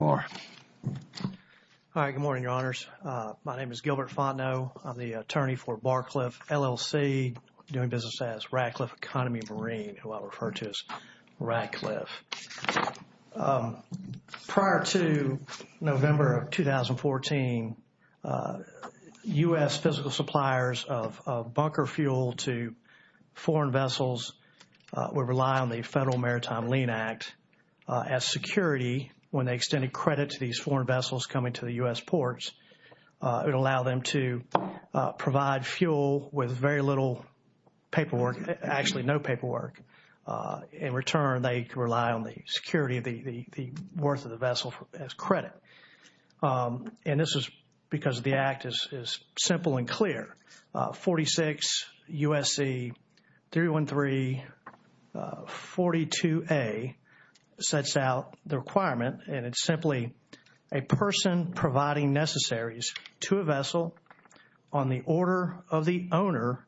Good morning, Your Honors. My name is Gilbert Fontenot. I'm the attorney for Barcliff, LLC, doing business as Radcliffe Economy Marine, who I refer to as Radcliffe. Prior to November of 2014, U.S. physical suppliers of bunker fuel to foreign vessels would rely on the Federal Maritime Lien Act as security when they extended credit to these foreign vessels coming to the U.S. ports. It would allow them to provide fuel with very little paperwork, actually no paperwork. In return, they could rely on the security of the worth of the 42A sets out the requirement, and it's simply a person providing necessaries to a vessel on the order of the owner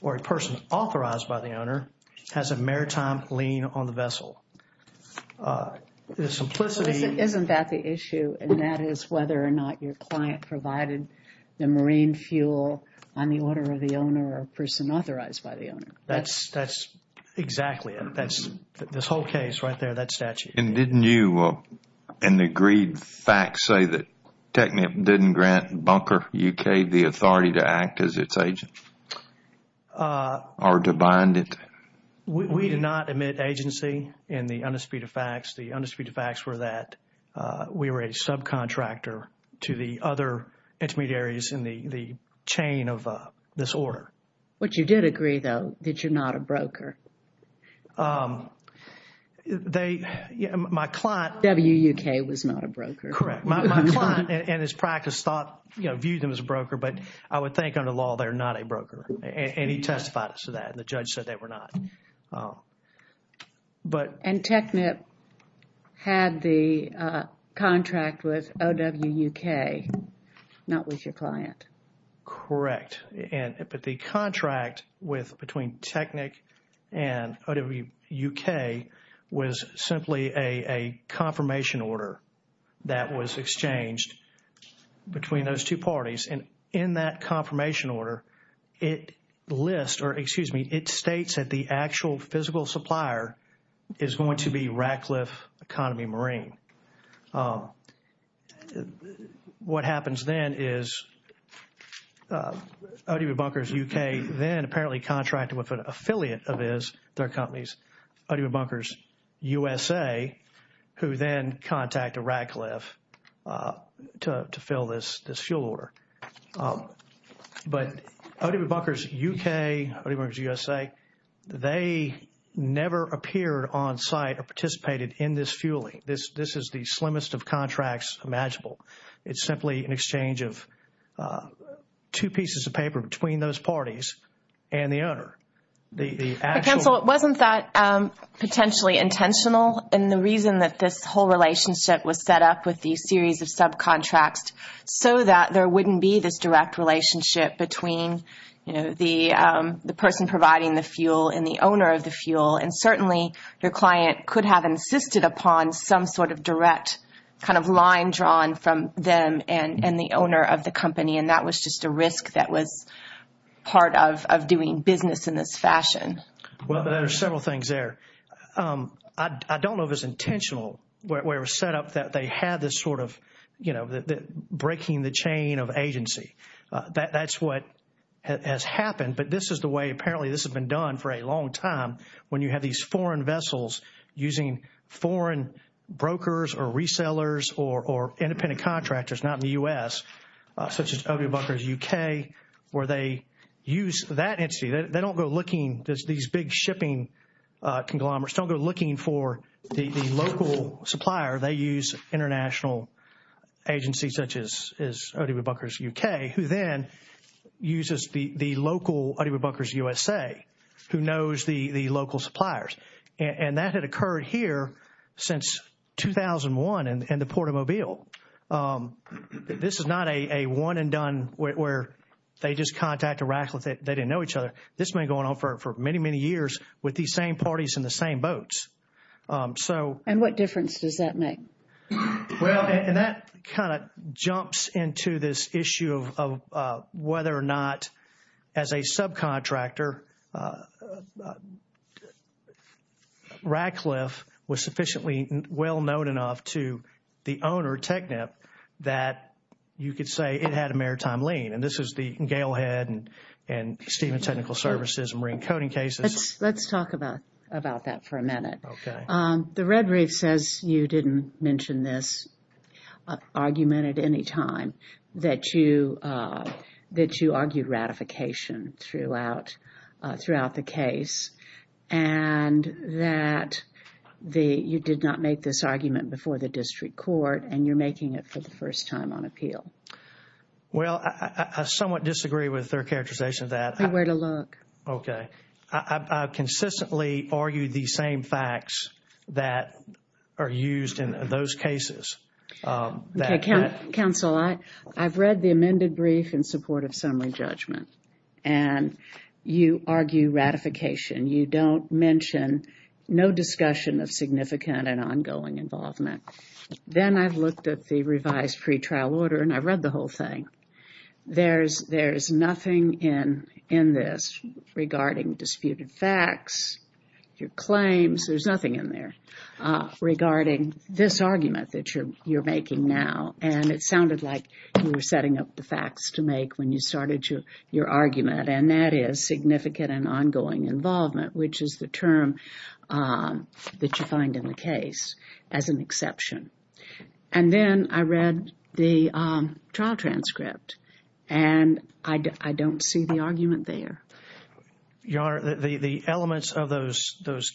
or a person authorized by the owner has a maritime lien on the vessel. The simplicity... Isn't that the issue? And that is whether or not your client provided the marine fuel on the order of the owner or person authorized by the owner. That's exactly it. That's this whole case right there, that statute. And didn't you, in the agreed facts, say that TECNIP didn't grant Bunker, U.K. the authority to act as its agent or to bind it? We did not admit agency in the undisputed facts. The undisputed facts were that we were a subcontractor to the other intermediaries in the chain of this order. But you did agree, though, that you're not a broker. They, my client... W.U.K. was not a broker. Correct. My client and his practice thought, you know, viewed them as a broker, but I would think under law, they're not a broker. And he testified to that. The judge said they were not. But... And TECNIP had the contract with O.W.U.K., not with your client. Correct. But the contract between TECNIP and O.W.U.K. was simply a confirmation order that was exchanged between those two parties. And in that confirmation order, it lists, or excuse me, it states that the actual physical supplier is going to be Radcliffe Economy Marine. What happens then is O.W.U.K. then apparently contracted with an affiliate of theirs, their companies, O.W.U.S.A., who then contact Radcliffe to fill this fuel order. But O.W.U.K., O.W.U.S.A., they never appeared on site or participated in this fueling. This is the slimmest of contracts imaginable. It's simply an exchange of two pieces of paper between those parties and the owner. But counsel, it wasn't that potentially intentional in the reason that this whole relationship was set up with the series of subcontracts so that there wouldn't be this direct relationship between, you know, the person providing the fuel and the owner of the fuel. And certainly, your client could have insisted upon some sort of direct kind of line drawn from them and the owner of the company. And that was just a risk that was part of doing business in this fashion. Well, there are several things there. I don't know if it's intentional where it was set up that they had this sort of, you know, breaking the chain of agency. That's what has happened. But this is the way, apparently, this has been done for a long time, when you have these foreign vessels using foreign brokers or resellers or independent contractors, not in the U.S., such as O.W. Bunker's U.K., where they use that entity. They don't go looking, these big shipping conglomerates, don't go looking for the local supplier. They use international agencies, such as O.W. Bunker's U.K., who then uses the local O.W. Bunker's U.S.A., who knows the local suppliers. And that had occurred here since 2001 in the Port of Mobile. This is not a one and done where they just contact a raffle, they didn't know each other. This has been going on for many, many years with these same parties in the same boats. And what difference does that make? Well, and that kind of jumps into this issue of whether or not, as a subcontractor, Radcliffe was sufficiently well known enough to the owner, TechNIP, that you could say it had a maritime lien. And this is the Gale Head and Stephen Technical Services and Marine Coding cases. Let's talk about that for a minute. The red brief says you didn't mention this argument at any time, that you argued ratification throughout the case and that you did not make this argument before the district court and you're making it for the first time on appeal. Well, I somewhat disagree with their characterization of that. Okay. I consistently argue the same facts that are used in those cases. Counsel, I've read the amended brief in support of summary judgment and you argue ratification. You don't mention no discussion of significant and ongoing involvement. Then I've looked at the revised pretrial order and I've read the whole thing. There's nothing in this regarding disputed facts, your claims. There's nothing in there regarding this argument that you're making now. And it sounded like you were setting up the facts to make when you started your argument. And that is significant and ongoing involvement, which is the term that you find in the case as an exception. And then I read the trial transcript and I don't see the argument there. Your Honor, the elements of the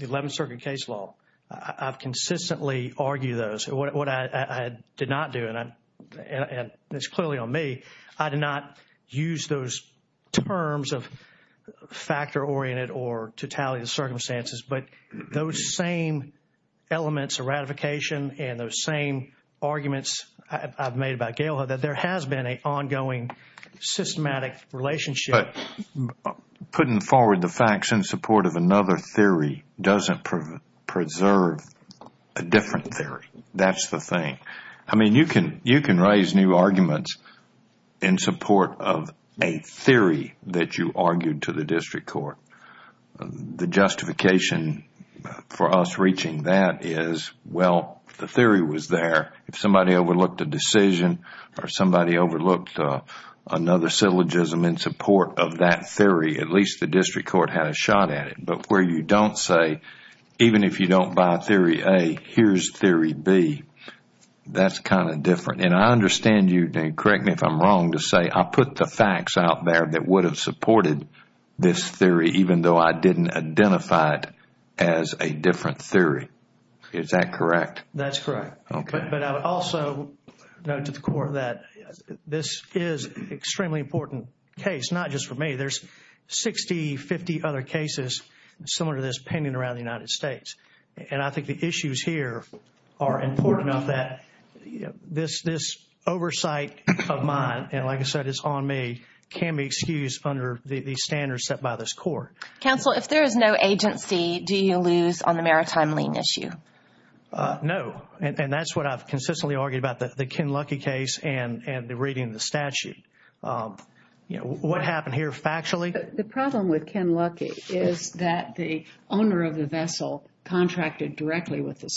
Eleventh Circuit case law, I've consistently argued those. What I did not do, and it's clearly on me, I did not use those terms of factor-oriented or totality of the circumstances. But those same elements of ratification and those same arguments I've made about Gail that there has been an ongoing systematic relationship. Putting forward the facts in support of another theory doesn't preserve a different theory. That's the thing. You can raise new arguments in support of a theory that you argued to the district court. The justification for us reaching that is, well, the theory was there. If somebody overlooked a decision or somebody overlooked another syllogism in support of that theory, at least the district court had a shot at it. But where you don't say, even if you don't buy theory A, here's theory B, that's kind of different. And I understand you, and correct me if I'm wrong, to say I put the facts out there that would have supported this theory even though I didn't identify it as a different theory. Is that correct? That's correct. But I would also note to the Court that this is an extremely important case, not just for me. There's 60, 50 other cases similar to this pending around the United States. And I think the issues here are important enough that this oversight of mine, and like I said, it's on me, can be excused under the standards set by this Court. Counsel, if there is no agency, do you lose on the maritime lien issue? No. And that's what I've consistently argued about the Ken Luckey case and the reading of the statute. What happened here factually? The problem with Ken Luckey is that the contracted directly with the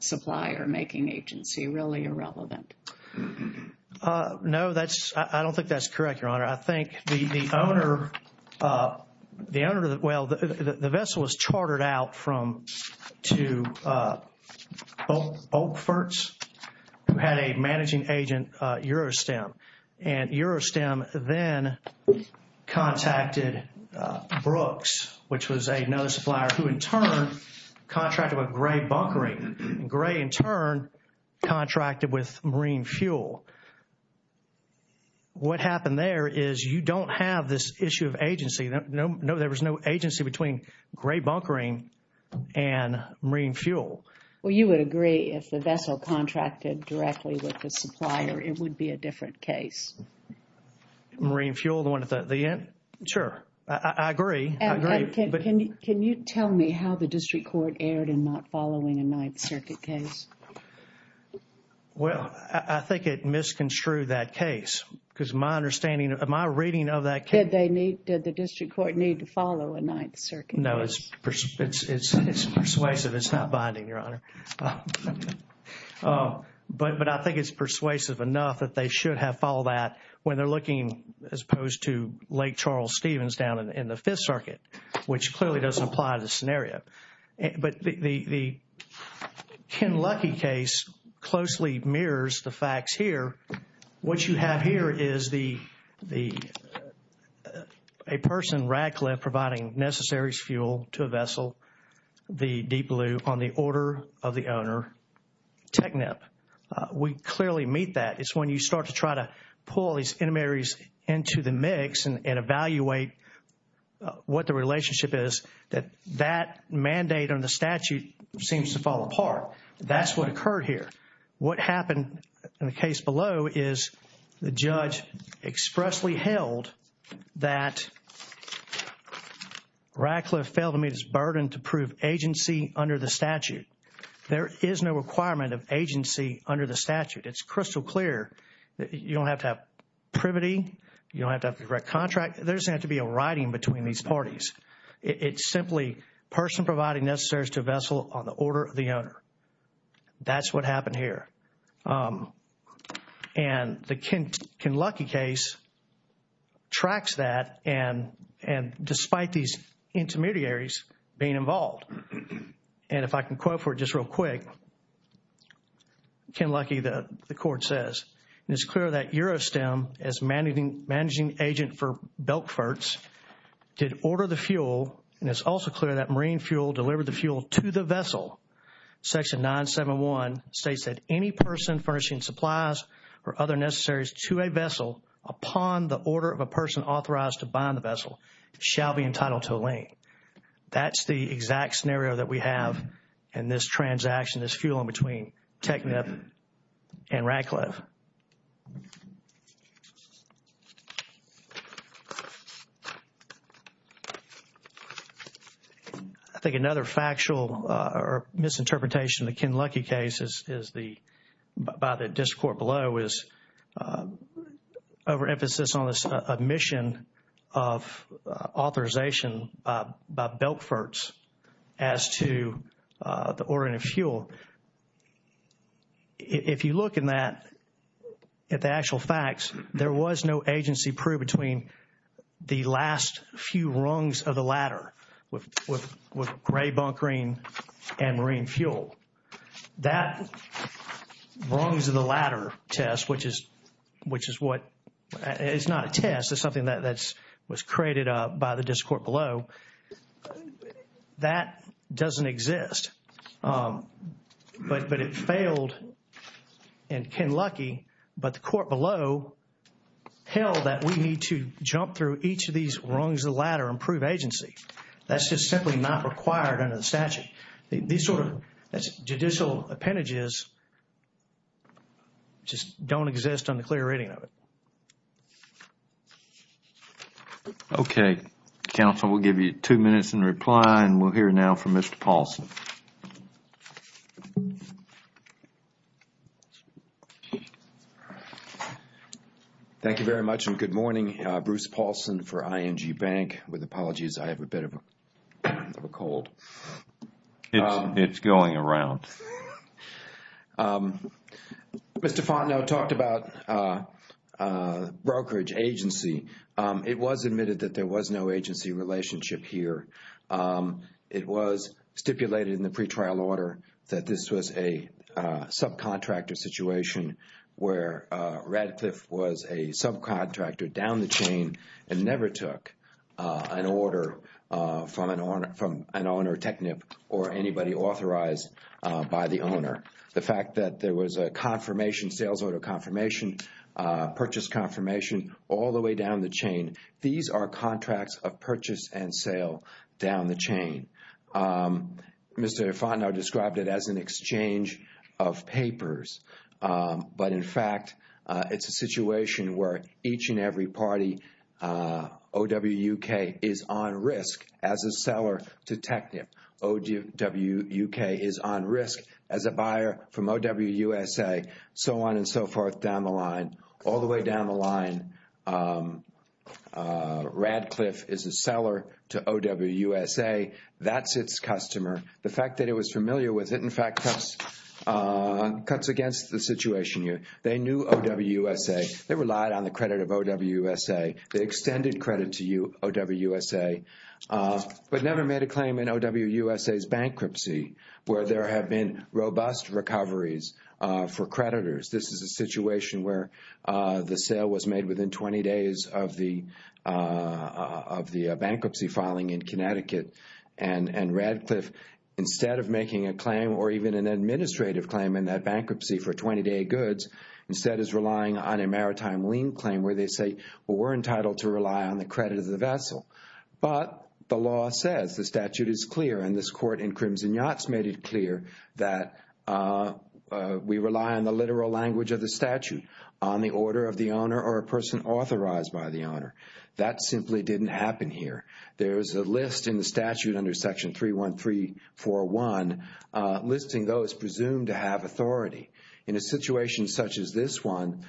supplier-making agency, really irrelevant. No, I don't think that's correct, Your Honor. I think the owner, well, the vessel was chartered out to Oakforts, who had a managing agent, Eurostem. And Eurostem then contacted Brooks, which was another supplier who in turn contracted with Gray Bunkering. Gray in turn contracted with Marine Fuel. What happened there is you don't have this issue of agency. No, there was no agency between Gray Bunkering and Marine Fuel. Well, you would agree if the vessel contracted directly with the supplier, it would be a different case. Marine Fuel, the one at the end? Sure. I agree. I agree. Can you tell me how the district court erred in not following a Ninth Circuit case? Well, I think it misconstrued that case because my understanding, my reading of that case... Did they need, did the district court need to follow a Ninth Circuit case? No, it's persuasive. It's not binding, Your Honor. But I think it's persuasive enough that they should have followed that when they're looking as opposed to Lake Charles Stevens down in the Fifth Circuit, which clearly doesn't apply to the scenario. But the Ken Luckey case closely mirrors the facts here. What you have here is a person, Radcliffe, providing necessaries fuel to a vessel, the Deep Blue, on the order of the owner, Technep. We clearly meet that. It's when you start to try to pull these intermediaries into the mix and evaluate what the relationship is that that mandate on the statute seems to fall apart. That's what occurred here. What happened in the case below is the judge expressly held that Radcliffe failed to meet his burden to prove agency under the statute. There is no requirement of agency under the statute. It's crystal clear that you don't have to have privity. You don't have to have a direct contract. There doesn't have to be a writing between these parties. It's simply a person providing necessaries to a vessel on the And the Ken Luckey case tracks that and despite these intermediaries being involved. And if I can quote for just real quick, Ken Luckey, the court says, and it's clear that Eurostem as managing agent for Belkforts did order the fuel. And it's also clear that Marine Fuel delivered the fuel to the vessel. Section 971 states that any person furnishing supplies or other necessaries to a vessel upon the order of a person authorized to bind the vessel shall be entitled to a link. That's the exact scenario that we have in this transaction, this fuel in between Technip and Radcliffe. I think another factual or misinterpretation of the Ken Luckey case is the, by the district court below, is overemphasis on this omission of authorization by Belkforts as to the ordering of the actual facts. There was no agency proof between the last few rungs of the ladder with gray bunkering and Marine Fuel. That rungs of the ladder test, which is what, it's not a test, it's something that was created by the district court below, that doesn't exist. But it failed in Ken Luckey, but the court below held that we need to jump through each of these rungs of the ladder and prove agency. That's just simply not required under the statute. These sort of judicial appendages just don't exist on the clear reading of it. Okay, counsel, we'll give you two minutes in reply and we'll hear now from Mr. Paulson. Thank you very much and good morning. Bruce Paulson for ING Bank. With apologies, I have a bit of a cold. It's going around. Mr. Fontenot talked about brokerage agency. It was admitted that there was no agency relationship here. It was stipulated in the pretrial order that this was a subcontractor situation where Radcliffe was a subcontractor down the chain and never took an order from an owner, TECNIP, or anybody authorized by the owner. The fact that there was a sales order confirmation, purchase confirmation, all the way down the chain, these are contracts of purchase and sale down the chain. Mr. Fontenot described it as an exchange of papers, but in fact, it's a situation where each and every party, OWUK, is on risk as a seller to TECNIP. OWUK is on risk as a buyer from OWUSA, so on and so forth down the line. All the way down the line, Radcliffe is a seller to OWUSA. That's its customer. The fact that it was familiar with it, in fact, cuts against the situation here. They knew OWUSA. They relied on the credit of OWUSA. They extended credit to OWUSA, but never made a claim in OWUSA's bankruptcy, where there have been robust recoveries for creditors. This is a situation where the sale was made within 20 days of the bankruptcy filing in Connecticut, and Radcliffe, instead of making a claim or even an administrative claim in that bankruptcy for 20-day goods, instead is relying on a maritime lien claim where they say, well, we're entitled to rely on the credit of the vessel. But the law says the statute is clear, and this court in Crimson Yachts made it clear that we rely on the literal language of the statute, on the order of the owner or a person authorized by the owner. That simply didn't happen here. There's a list in the statute under Section 31341 listing those presumed to have authority. In a situation such as this one,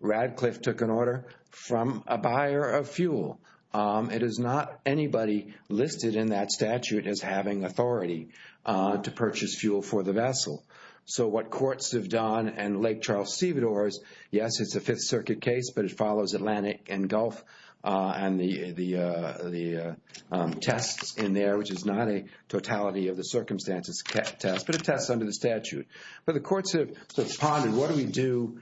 Radcliffe took an order from a buyer of fuel. It is not anybody listed in that statute as having authority to purchase fuel for the vessel. So what courts have done, and Lake Charles Sevidore's, yes, it's a Fifth Circuit case, but it follows Atlantic and Gulf and the tests in there, which is not a totality of the circumstances test, but it tests under the statute. But the courts have pondered, what do we do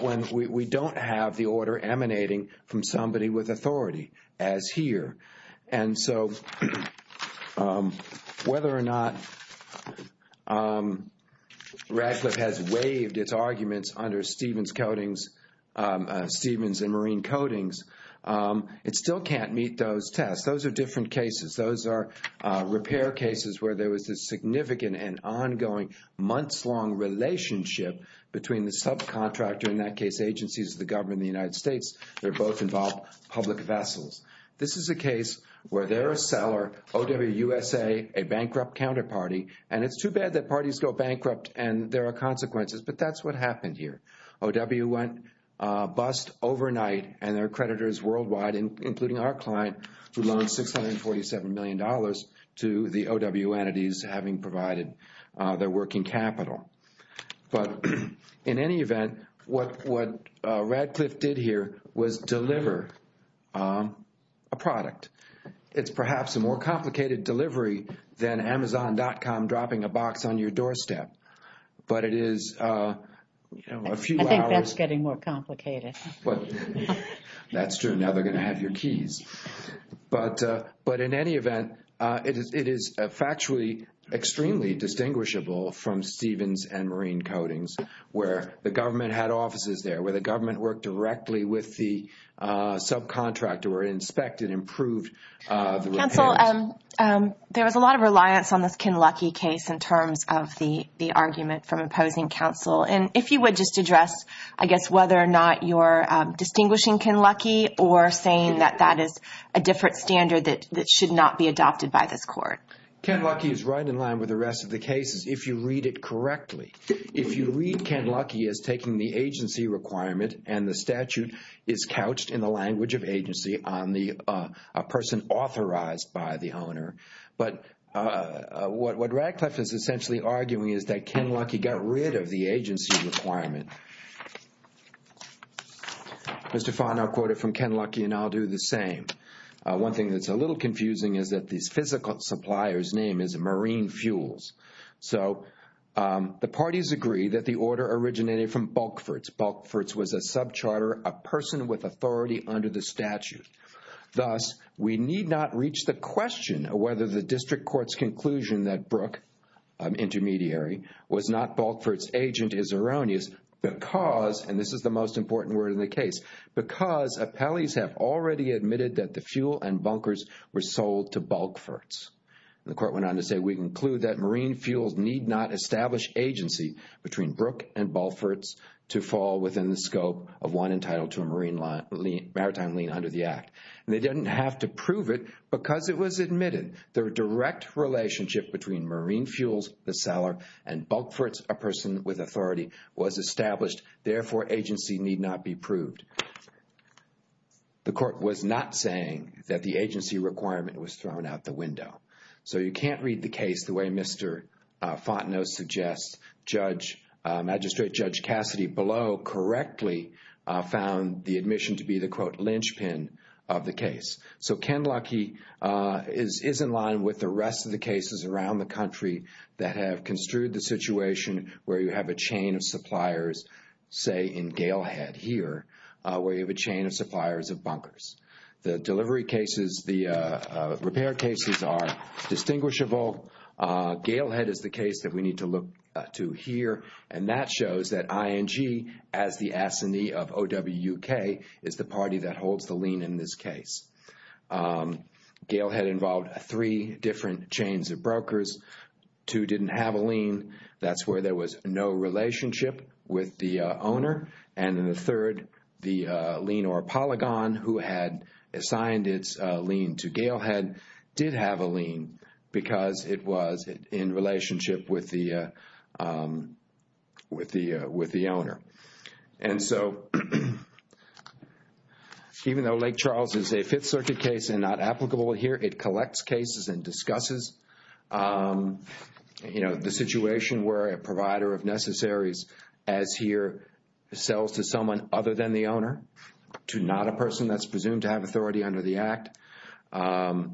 when we don't have the order emanating from somebody with authority as here? And so whether or not Radcliffe has waived its arguments under Stevens and Marine Codings, it still can't meet those tests. Those are different cases. Those are repair cases where there was a significant and ongoing months-long relationship between the subcontractor, in that is a case where they're a seller, OWUSA, a bankrupt counterparty, and it's too bad that parties go bankrupt and there are consequences, but that's what happened here. OW went bust overnight and their creditors worldwide, including our client who loaned $647 million to the OW entities having provided their working capital. But in any event, what Radcliffe did here was deliver a product. It's perhaps a more complicated delivery than Amazon.com dropping a box on your doorstep, but it is a few hours... I think that's getting more complicated. That's true. Now they're going to have your keys. But in any event, it is factually extremely distinguishable from Stevens and Marine Codings where the government had offices there, where the subcontractor were inspected, improved... Counsel, there was a lot of reliance on this Ken Luckey case in terms of the argument from opposing counsel. And if you would just address, I guess, whether or not you're distinguishing Ken Luckey or saying that that is a different standard that should not be adopted by this court. Ken Luckey is right in line with the rest of the cases, if you read it correctly. If you read Ken Luckey as taking the agency requirement and the statute is couched in the language of agency on the person authorized by the owner. But what Radcliffe is essentially arguing is that Ken Luckey got rid of the agency requirement. Mr. Fahn, I'll quote it from Ken Luckey and I'll do the same. One thing that's a little confusing is that this physical supplier's name is Marine Fuels. So the parties agree that the order originated from Bulkforts. Bulkforts was a subcharter, a person with authority under the statute. Thus, we need not reach the question of whether the district court's conclusion that Brooke, an intermediary, was not Bulkforts agent is erroneous because, and this is the most important word in the case, because appellees have already admitted that the fuel and bunkers were sold to Bulkforts. The court went on to say, we conclude that Marine Fuels need not establish agency between Brooke and Bulkforts to fall within the scope of one entitled to a maritime lien under the act. And they didn't have to prove it because it was admitted their direct relationship between Marine Fuels, the seller, and Bulkforts, a person with authority, was established. Therefore, agency need not be proved. The court was not saying that the agency requirement was thrown out the window. So you can't read the case the way Mr. Fontenot suggests. Judge, Magistrate Judge Cassidy below correctly found the admission to be the, quote, linchpin of the case. So Ken Luckey is in line with the rest of the cases around the country that have construed the situation where you have a chain of suppliers, say in Gale Head here, where you have a chain of suppliers of bunkers. The delivery cases, the repair cases are distinguishable. Gale Head is the case that we need to look to here. And that shows that ING, as the assignee of OWK, is the party that holds the lien in this case. Gale Head involved three different chains of brokers. Two didn't have a lien. That's where there was no relationship with the owner. And in the third, the lien or polygon who had assigned its lien to Gale Head did have a lien because it was in relationship with the owner. And so even though Lake Charles is a Fifth Circuit case and not applicable here, it collects cases and discusses, you know, the situation where a provider of necessaries, as here, sells to someone other than the owner, to not a person that's presumed to have authority under the Act. Ken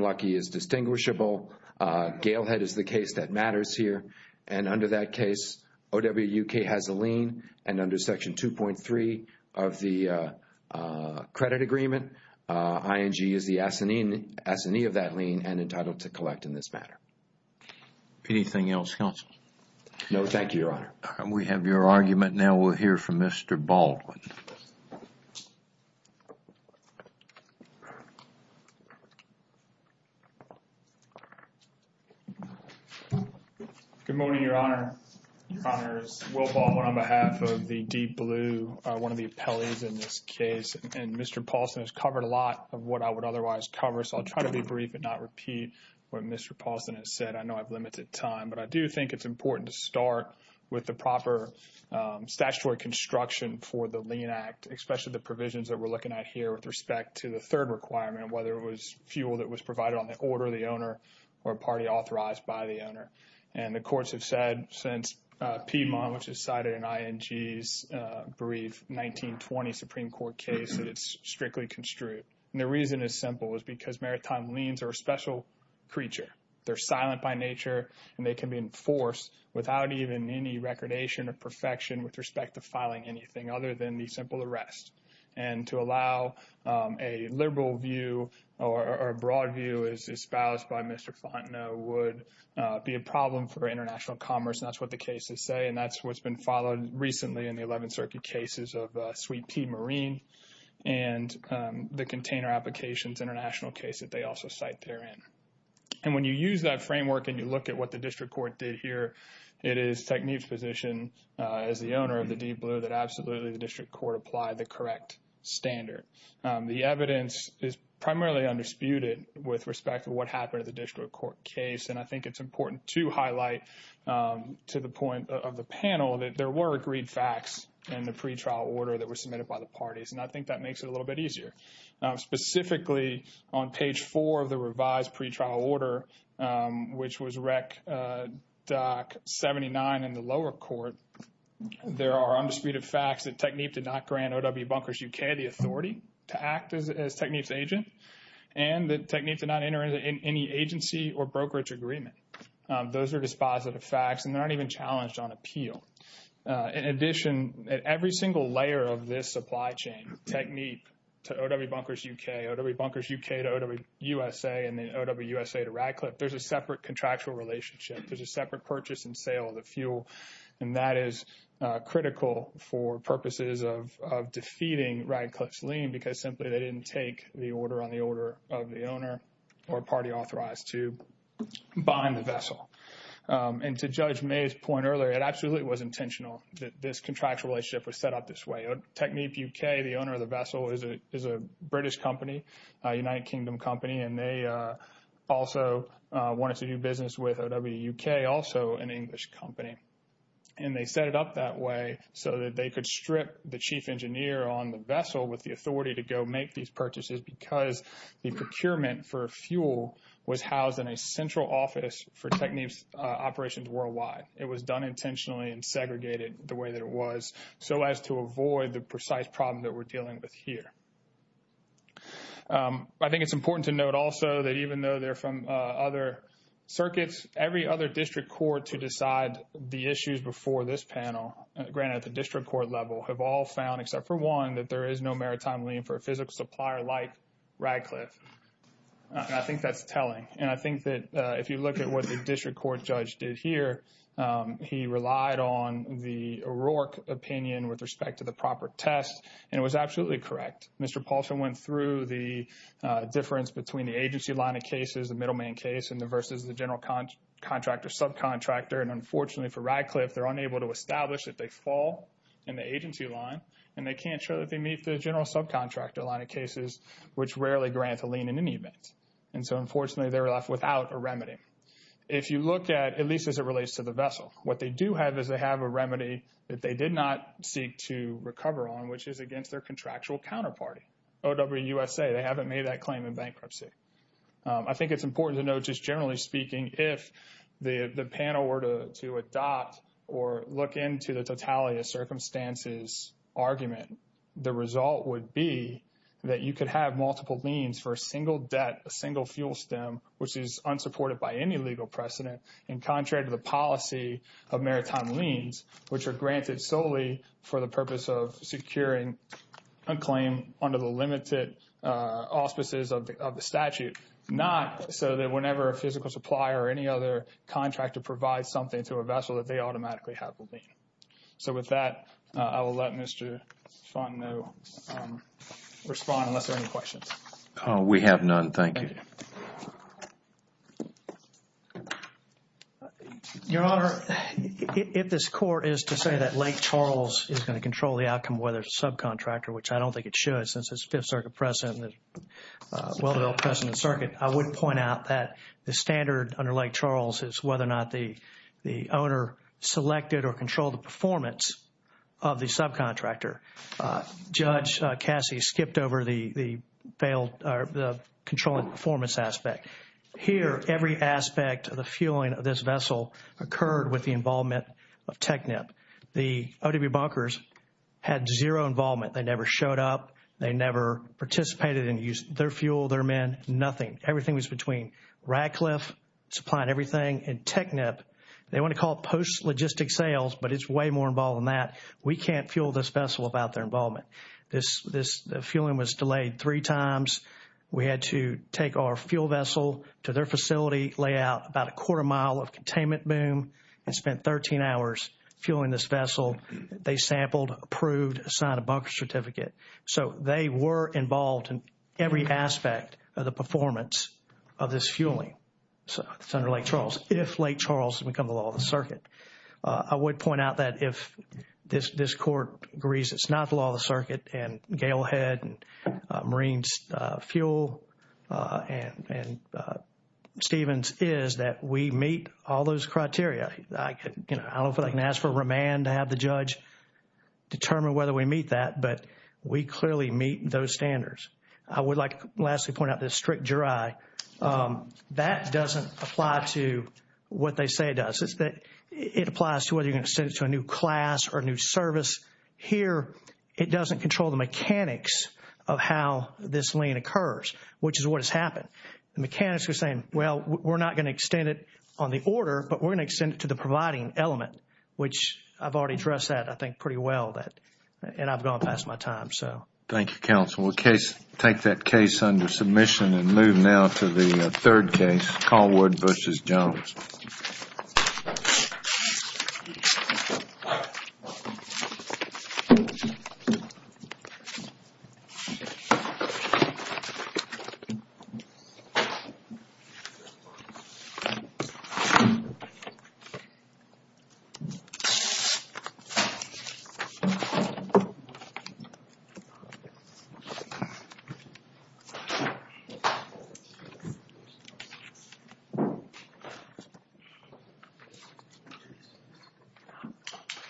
Luckey is distinguishable. Gale Head is the case that matters here. And under that case, OWK has a lien. And under Section 2.3 of the credit agreement, ING is the assignee of that lien and entitled to collect in this matter. Anything else, counsel? No, thank you, Your Honor. We have your argument now. We'll hear from Mr. Baldwin. Good morning, Your Honor. Your Honor, it's Will Baldwin on behalf of the Deep Blue, one of the appellees in this case. And Mr. Paulson has covered a lot of what I would otherwise cover, so I'll try to be brief and not repeat what Mr. Paulson has said. I know I've limited time, but I do think it's important to start with the proper statutory construction for the Lien Act, especially the provisions that we're looking at here with respect to the third requirement, whether it was fuel that was provided on the order of the owner or party authorized by the owner. And the courts have said since Piedmont, which is cited in ING's brief 1920 Supreme Court case, that it's strictly construed. And the reason is simple, is because maritime liens are a special creature. They're silent by nature, and they can be enforced without even any recordation or perfection with respect to filing anything other than the simple arrest. And to allow a liberal view or a broad view, as espoused by Mr. Fontenot, would be a problem for international commerce. And that's what the cases say. And that's what's been followed recently in the 11th Circuit cases of Sweet Pea Marine and the container applications international case that they also cite therein. And when you use that framework and you look at what the district court did here, it is Technique's position as the owner of the Deep Blue that absolutely the district court applied the correct standard. The evidence is primarily undisputed with respect to what happened at the district court case. And I think it's important to highlight to the point of the panel that there were agreed facts in the pretrial order that were submitted by the parties. And I of the revised pretrial order, which was REC 79 in the lower court, there are undisputed facts that Technique did not grant OW Bunkers UK the authority to act as Technique's agent, and that Technique did not enter into any agency or brokerage agreement. Those are dispositive facts, and they're not even challenged on appeal. In addition, at every single layer of this supply chain, Technique to OW Bunkers UK, OW Bunkers UK to OW USA, and then OW USA to Radcliffe, there's a separate contractual relationship. There's a separate purchase and sale of the fuel, and that is critical for purposes of defeating Radcliffe's lien because simply they didn't take the order on the order of the owner or party authorized to buy in the vessel. And to Judge May's point earlier, it absolutely was intentional that this contractual relationship was set up this way. Technique UK, the owner of is a British company, a United Kingdom company, and they also wanted to do business with OW UK, also an English company. And they set it up that way so that they could strip the chief engineer on the vessel with the authority to go make these purchases because the procurement for fuel was housed in a central office for Technique's operations worldwide. It was done intentionally and segregated the way that it was so as to avoid the precise problem that we're dealing with here. I think it's important to note also that even though they're from other circuits, every other district court to decide the issues before this panel, granted at the district court level, have all found, except for one, that there is no maritime lien for a physical supplier like Radcliffe. And I think that's telling. And I think that if you look at what the district court judge did here, he relied on the O'Rourke opinion with respect to the proper test, and it was absolutely correct. Mr. Paulson went through the difference between the agency line of cases, the middleman case, versus the general contractor subcontractor. And unfortunately for Radcliffe, they're unable to establish that they fall in the agency line, and they can't show that they meet the general subcontractor line of cases, which rarely grant a lien in any event. And so unfortunately, they were left without a remedy. If you look at, at least as it relates to the vessel, what they do have is they have a remedy that they did not seek to recover on, which is against their contractual counterparty, OWUSA. They haven't made that claim in bankruptcy. I think it's important to note just generally speaking, if the panel were to adopt or look into the totality of circumstances argument, the result would be that you could have multiple liens for a single debt, a single fuel stem, which is unsupported by any legal precedent, and contrary to the policy of maritime liens, which are granted solely for the purpose of securing a claim under the limited auspices of the statute, not so that whenever a physical supplier or any other contractor provides something to a vessel that they automatically have a lien. So with that, I will let Mr. Fontenot respond unless there are any questions. We have none, thank you. Your Honor, if this court is to say that Lake Charles is going to control the outcome whether it's a subcontractor, which I don't think it should since it's Fifth Circuit precedent, well-developed precedent circuit, I would point out that the standard under Lake Charles is whether or not the owner selected or controlled the performance of the subcontractor. Judge Cassie skipped over the controlling performance aspect. Here, every aspect of the fueling of this vessel occurred with the involvement of TECNIP. The ODB bunkers had zero involvement. They never showed up. They never participated in their fuel, their men, nothing. Everything was between Radcliffe supplying everything and TECNIP. They want to call it post-logistic sales, but it's way more involved than that. We can't fuel this vessel without their involvement. This fueling was delayed three times. We had to take our fuel vessel to their facility, lay out about a quarter mile of containment boom, and spent 13 hours fueling this vessel. They sampled, approved, signed a bunker certificate. So, they were involved in every aspect of the performance of this fueling. It's under Lake Charles, if Lake Charles becomes the law of the circuit. I would point out that if this court agrees it's not the law of the circuit, and Galehead, and Marines Fuel, and Stevens is that we meet all those criteria. I don't know if I can ask for remand to have the judge determine whether we meet that, but we clearly meet those standards. I would like to lastly point out this strict jury. That doesn't apply to what they say it applies to whether you're going to send it to a new class or new service. Here, it doesn't control the mechanics of how this lien occurs, which is what has happened. The mechanics are saying, well, we're not going to extend it on the order, but we're going to extend it to the providing element, which I've already addressed that, I think, pretty well, and I've gone past my time. Thank you, counsel. We'll take that case under submission and move now to the third case, Calwood v. Jones. Thank you.